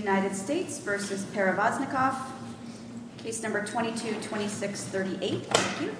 United States v. Paravaznikov, case number 222638, thank you.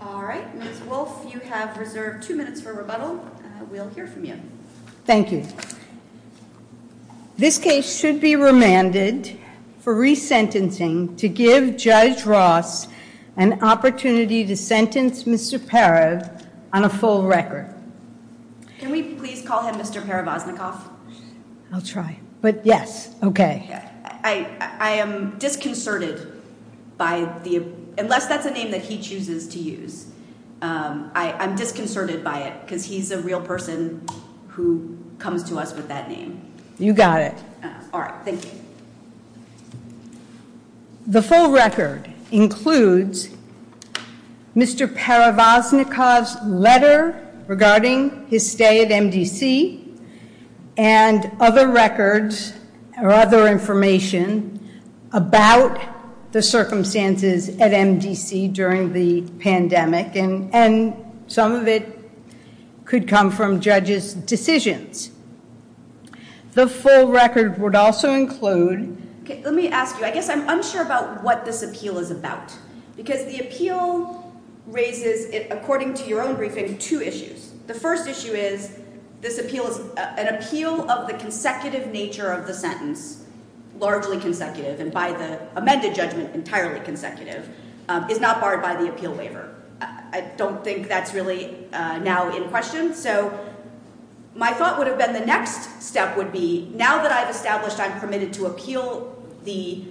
All right, Ms. Wolfe, you have reserved two minutes for rebuttal. We'll hear from you. Thank you. This case should be remanded for resentencing to give Judge Ross an opportunity to sentence Mr. Parav on a full record. Can we please call him Mr. Paravaznikov? I'll try, but yes, okay. I am disconcerted by the, unless that's a name that he chooses to use, I'm disconcerted by it because he's a real person who comes to us with that name. You got it. The full record includes Mr. Paravaznikov's letter regarding his stay at MDC and other records or other information about the circumstances at MDC during the pandemic, and some of it could come from judges' decisions. The full record would also include- Okay, let me ask you, I guess I'm unsure about what this appeal is about because the appeal raises, according to your own briefing, two issues. The first issue is this appeal is an appeal of the consecutive nature of the sentence, largely consecutive, and by the amended judgment, entirely consecutive, is not barred by the appeal waiver. I don't think that's really now in question. So my thought would have been the next step would be now that I've established I'm permitted to appeal the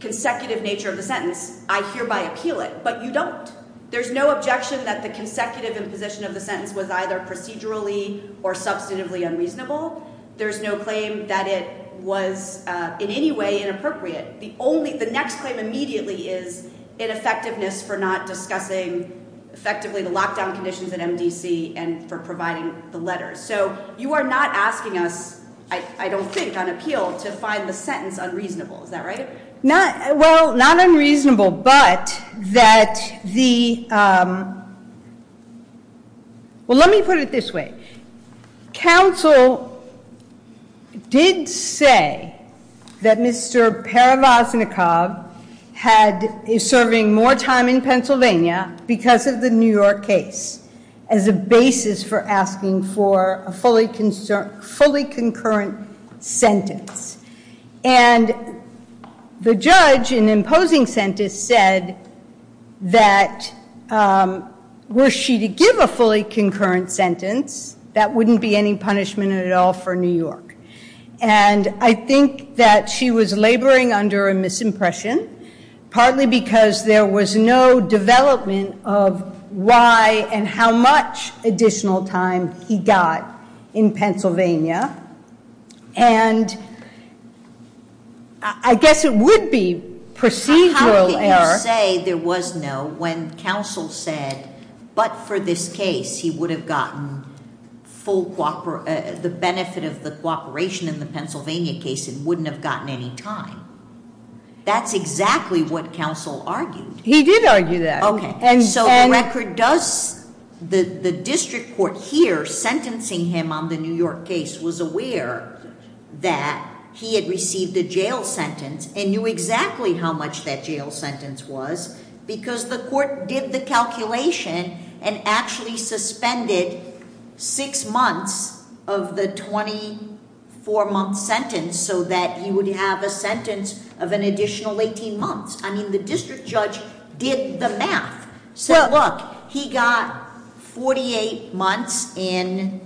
consecutive nature of the sentence, I hereby appeal it, but you don't. There's no objection that the consecutive imposition of the sentence was either procedurally or substantively unreasonable. There's no claim that it was in any way inappropriate. The next claim immediately is ineffectiveness for not discussing effectively the lockdown conditions at MDC and for providing the letters. So you are not asking us, I don't think, on appeal to find the sentence unreasonable. Is that right? Well, not unreasonable, but that the- Well, let me put it this way. Counsel did say that Mr. Parivasnikov is serving more time in Pennsylvania because of the New York case as a basis for asking for a fully concurrent sentence. And the judge in imposing sentence said that were she to give a fully concurrent sentence, that wouldn't be any punishment at all for New York. And I think that she was laboring under a misimpression, partly because there was no development of why and how much additional time he got in Pennsylvania. And I guess it would be procedural error- How could you say there was no when counsel said, but for this case, he would have gotten the benefit of the cooperation in the Pennsylvania case and wouldn't have gotten any time? That's exactly what counsel argued. He did argue that. Okay, so the record does, the district court here sentencing him on the New York case was aware that he had received a jail sentence and knew exactly how much that jail sentence was because the court did the calculation and actually suspended six months of the 24 month sentence so that he would have a sentence of an additional 18 months. I mean, the district judge did the math. So look, he got 48 months in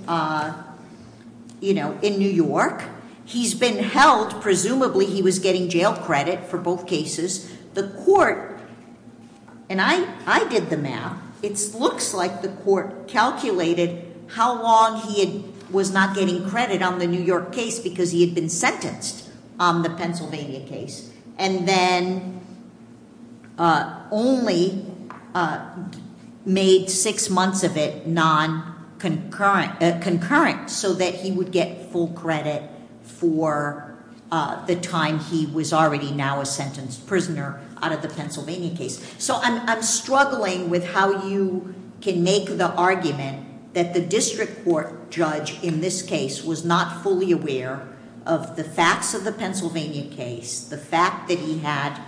New York. He's been held, presumably he was getting jail credit for both cases. The court, and I did the math. It looks like the court calculated how long he was not getting credit on the New York case because he had been sentenced on the Pennsylvania case. And then only made six months of it non-concurrent so that he would get full credit for the time he was already now a sentenced prisoner out of the Pennsylvania case. So I'm struggling with how you can make the argument that the district court judge, in this case, was not fully aware of the facts of the Pennsylvania case. The fact that he had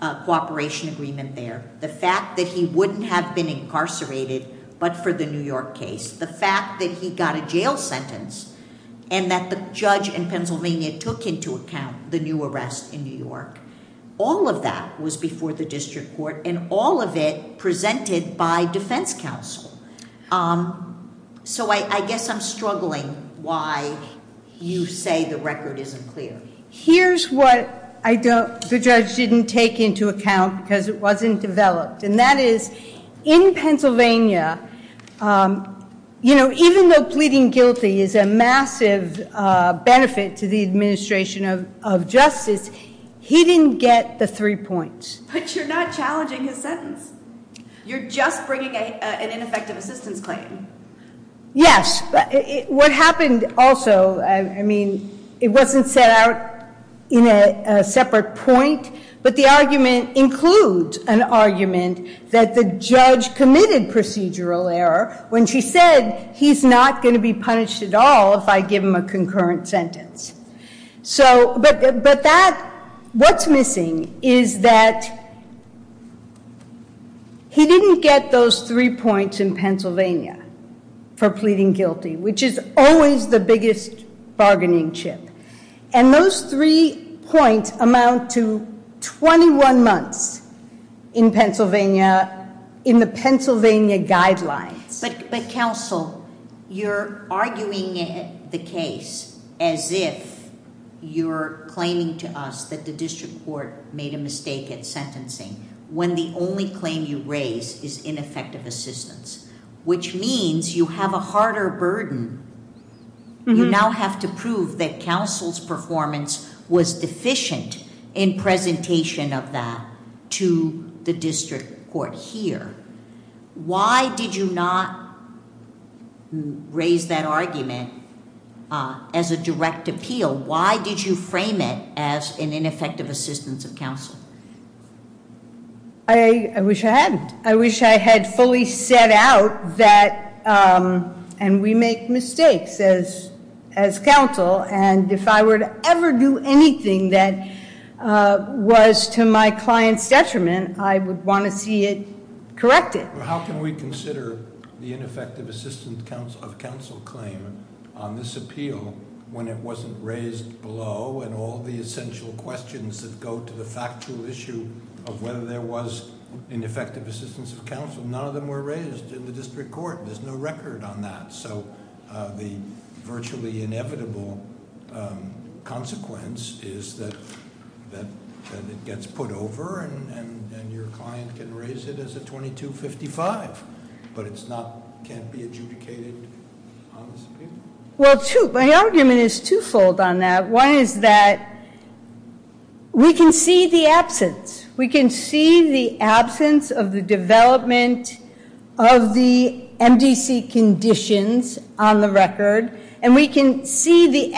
a cooperation agreement there. The fact that he wouldn't have been incarcerated but for the New York case. The fact that he got a jail sentence and that the judge in Pennsylvania took into account the new arrest in New York. All of that was before the district court and all of it presented by defense counsel. So I guess I'm struggling why you say the record isn't clear. Here's what the judge didn't take into account because it wasn't developed. And that is, in Pennsylvania, even though pleading guilty is a massive benefit to the administration of justice, he didn't get the three points. But you're not challenging his sentence. You're just bringing an ineffective assistance claim. Yes. What happened also, I mean, it wasn't set out in a separate point. But the argument includes an argument that the judge committed procedural error when she said, he's not going to be punished at all if I give him a concurrent sentence. So, but that, what's missing is that he didn't get those three points in Pennsylvania for pleading guilty. Which is always the biggest bargaining chip. And those three points amount to 21 months in Pennsylvania, in the Pennsylvania guidelines. But counsel, you're arguing the case as if you're claiming to us that the district court made a mistake at sentencing. When the only claim you raise is ineffective assistance. Which means you have a harder burden. You now have to prove that counsel's performance was deficient in presentation of that to the district court here. Why did you not raise that argument as a direct appeal? Why did you frame it as an ineffective assistance of counsel? I wish I hadn't. I wish I had fully set out that, and we make mistakes as counsel. And if I were to ever do anything that was to my client's detriment, I would want to see it corrected. How can we consider the ineffective assistance of counsel claim on this appeal when it wasn't raised below? And all the essential questions that go to the factual issue of whether there was ineffective assistance of counsel. None of them were raised in the district court. There's no record on that. So the virtually inevitable consequence is that it gets put over and your client can raise it as a 2255. But it can't be adjudicated on this appeal. My argument is twofold on that. One is that we can see the absence. Absence of the development of the MDC conditions on the record. And we can see the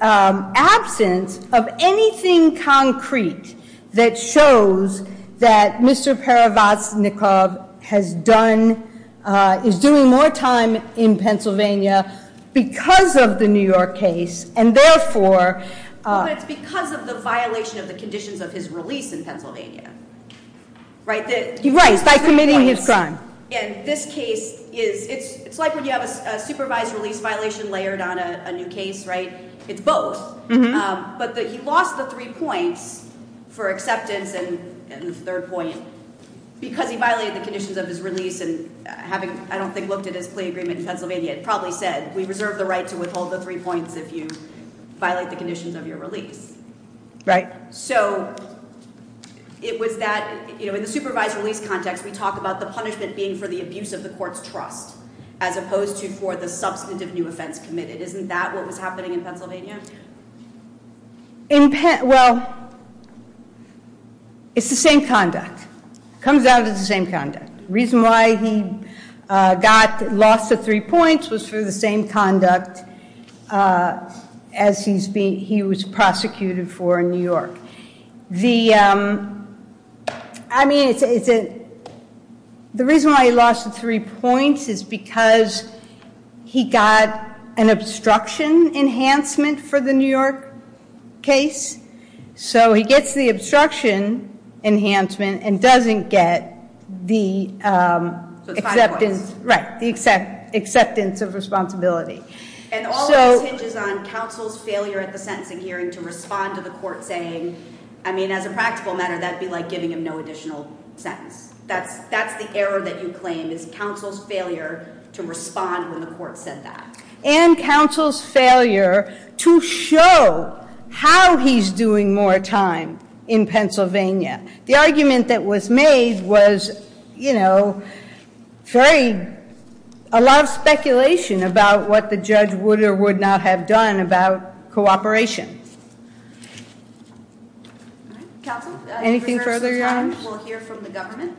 absence of anything concrete that shows that Mr. Paravaznikov has done, is doing more time in Pennsylvania because of the New York case. And therefore- But it's because of the violation of the conditions of his release in Pennsylvania. Right, by committing his crime. And this case is, it's like when you have a supervised release violation layered on a new case, right? It's both. But he lost the three points for acceptance and the third point because he violated the conditions of his release. And having, I don't think, looked at his plea agreement in Pennsylvania, it probably said we reserve the right to withhold the three points if you violate the conditions of your release. Right. So, it was that, you know, in the supervised release context, we talk about the punishment being for the abuse of the court's trust, as opposed to for the substantive new offense committed. Isn't that what was happening in Pennsylvania? Well, it's the same conduct. Comes out as the same conduct. The reason why he lost the three points was for the same conduct as he was prosecuted for in New York. The reason why he lost the three points is because he got an obstruction enhancement for the New York case. So, he gets the obstruction enhancement and doesn't get the acceptance of responsibility. And all of this hinges on counsel's failure at the sentencing hearing to respond to the court saying, I mean, as a practical matter, that would be like giving him no additional sentence. That's the error that you claim is counsel's failure to respond when the court said that. And counsel's failure to show how he's doing more time in Pennsylvania. The argument that was made was, you know, a lot of speculation about what the judge would or would not have done about cooperation. Anything further, Your Honor? We'll hear from the government.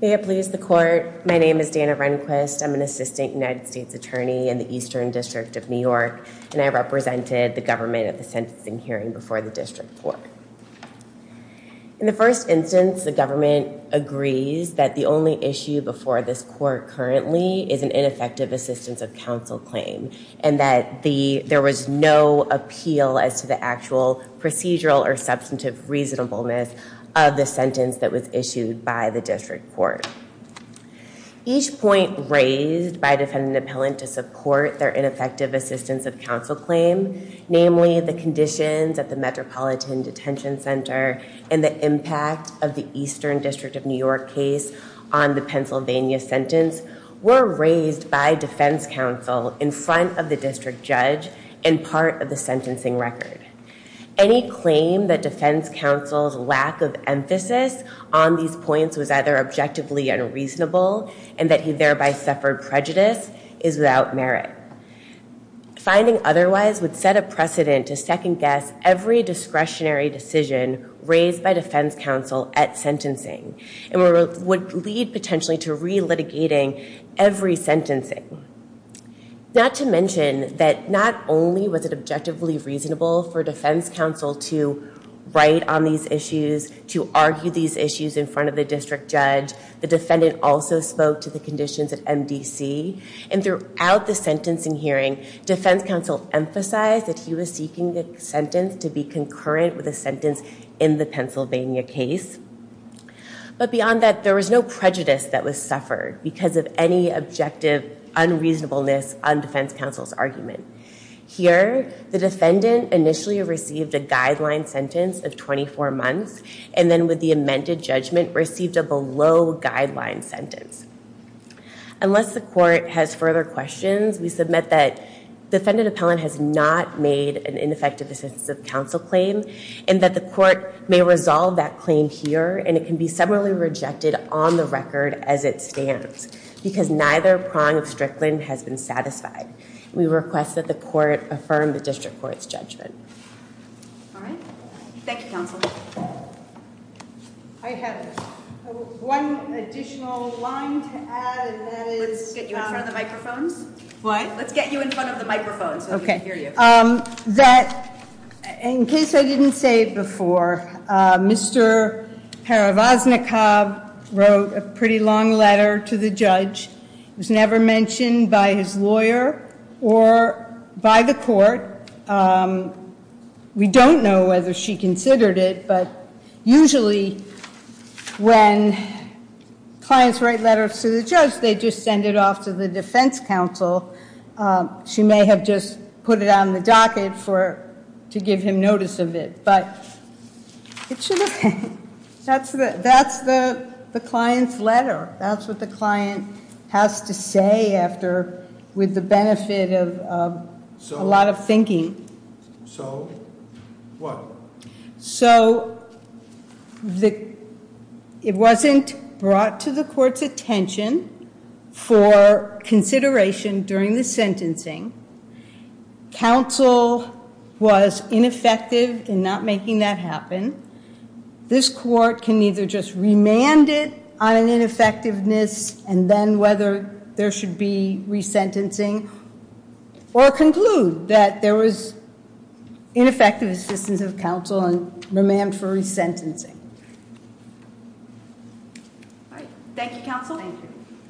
May it please the court. My name is Dana Rehnquist. I'm an assistant United States attorney in the Eastern District of New York. And I represented the government at the sentencing hearing before the district court. In the first instance, the government agrees that the only issue before this court currently is an ineffective assistance of counsel claim. And that there was no appeal as to the actual procedural or substantive reasonableness of the sentence that was issued by the district court. Each point raised by defendant appellant to support their ineffective assistance of counsel claim, namely the conditions at the Metropolitan Detention Center and the impact of the Eastern District of New York case on the Pennsylvania sentence, were raised by defense counsel in front of the district judge in part of the sentencing record. Any claim that defense counsel's lack of emphasis on these points was either objectively unreasonable and that he thereby suffered prejudice is without merit. Finding otherwise would set a precedent to second-guess every discretionary decision raised by defense counsel at sentencing. And would lead potentially to re-litigating every sentencing. Not to mention that not only was it objectively reasonable for defense counsel to write on these issues, to argue these issues in front of the district judge, the defendant also spoke to the conditions at MDC. And throughout the sentencing hearing, defense counsel emphasized that he was seeking the sentence to be concurrent with a sentence in the Pennsylvania case. But beyond that, there was no prejudice that was suffered because of any objective unreasonableness on defense counsel's argument. Here, the defendant initially received a guideline sentence of 24 months and then with the amended judgment received a below guideline sentence. Unless the court has further questions, we submit that defendant appellant has not made an ineffective assistance of counsel claim and that the court may resolve that claim here and it can be similarly rejected on the record as it stands. Because neither prong of Strickland has been satisfied. We request that the court affirm the district court's judgment. All right. Thank you, counsel. I have one additional line to add. Let's get you in front of the microphones. What? Let's get you in front of the microphones so we can hear you. In case I didn't say it before, Mr. Parivasnikov wrote a pretty long letter to the judge. It was never mentioned by his lawyer or by the court. We don't know whether she considered it, but usually when clients write letters to the judge, they just send it off to the defense counsel. She may have just put it on the docket to give him notice of it, but it should have been. That's the client's letter. That's what the client has to say after with the benefit of a lot of thinking. So what? So it wasn't brought to the court's attention for consideration during the sentencing. Counsel was ineffective in not making that happen. This court can either just remand it on an ineffectiveness and then whether there should be resentencing or conclude that there was ineffective assistance of counsel and remand for resentencing. All right. Thank you, counsel. Thank you.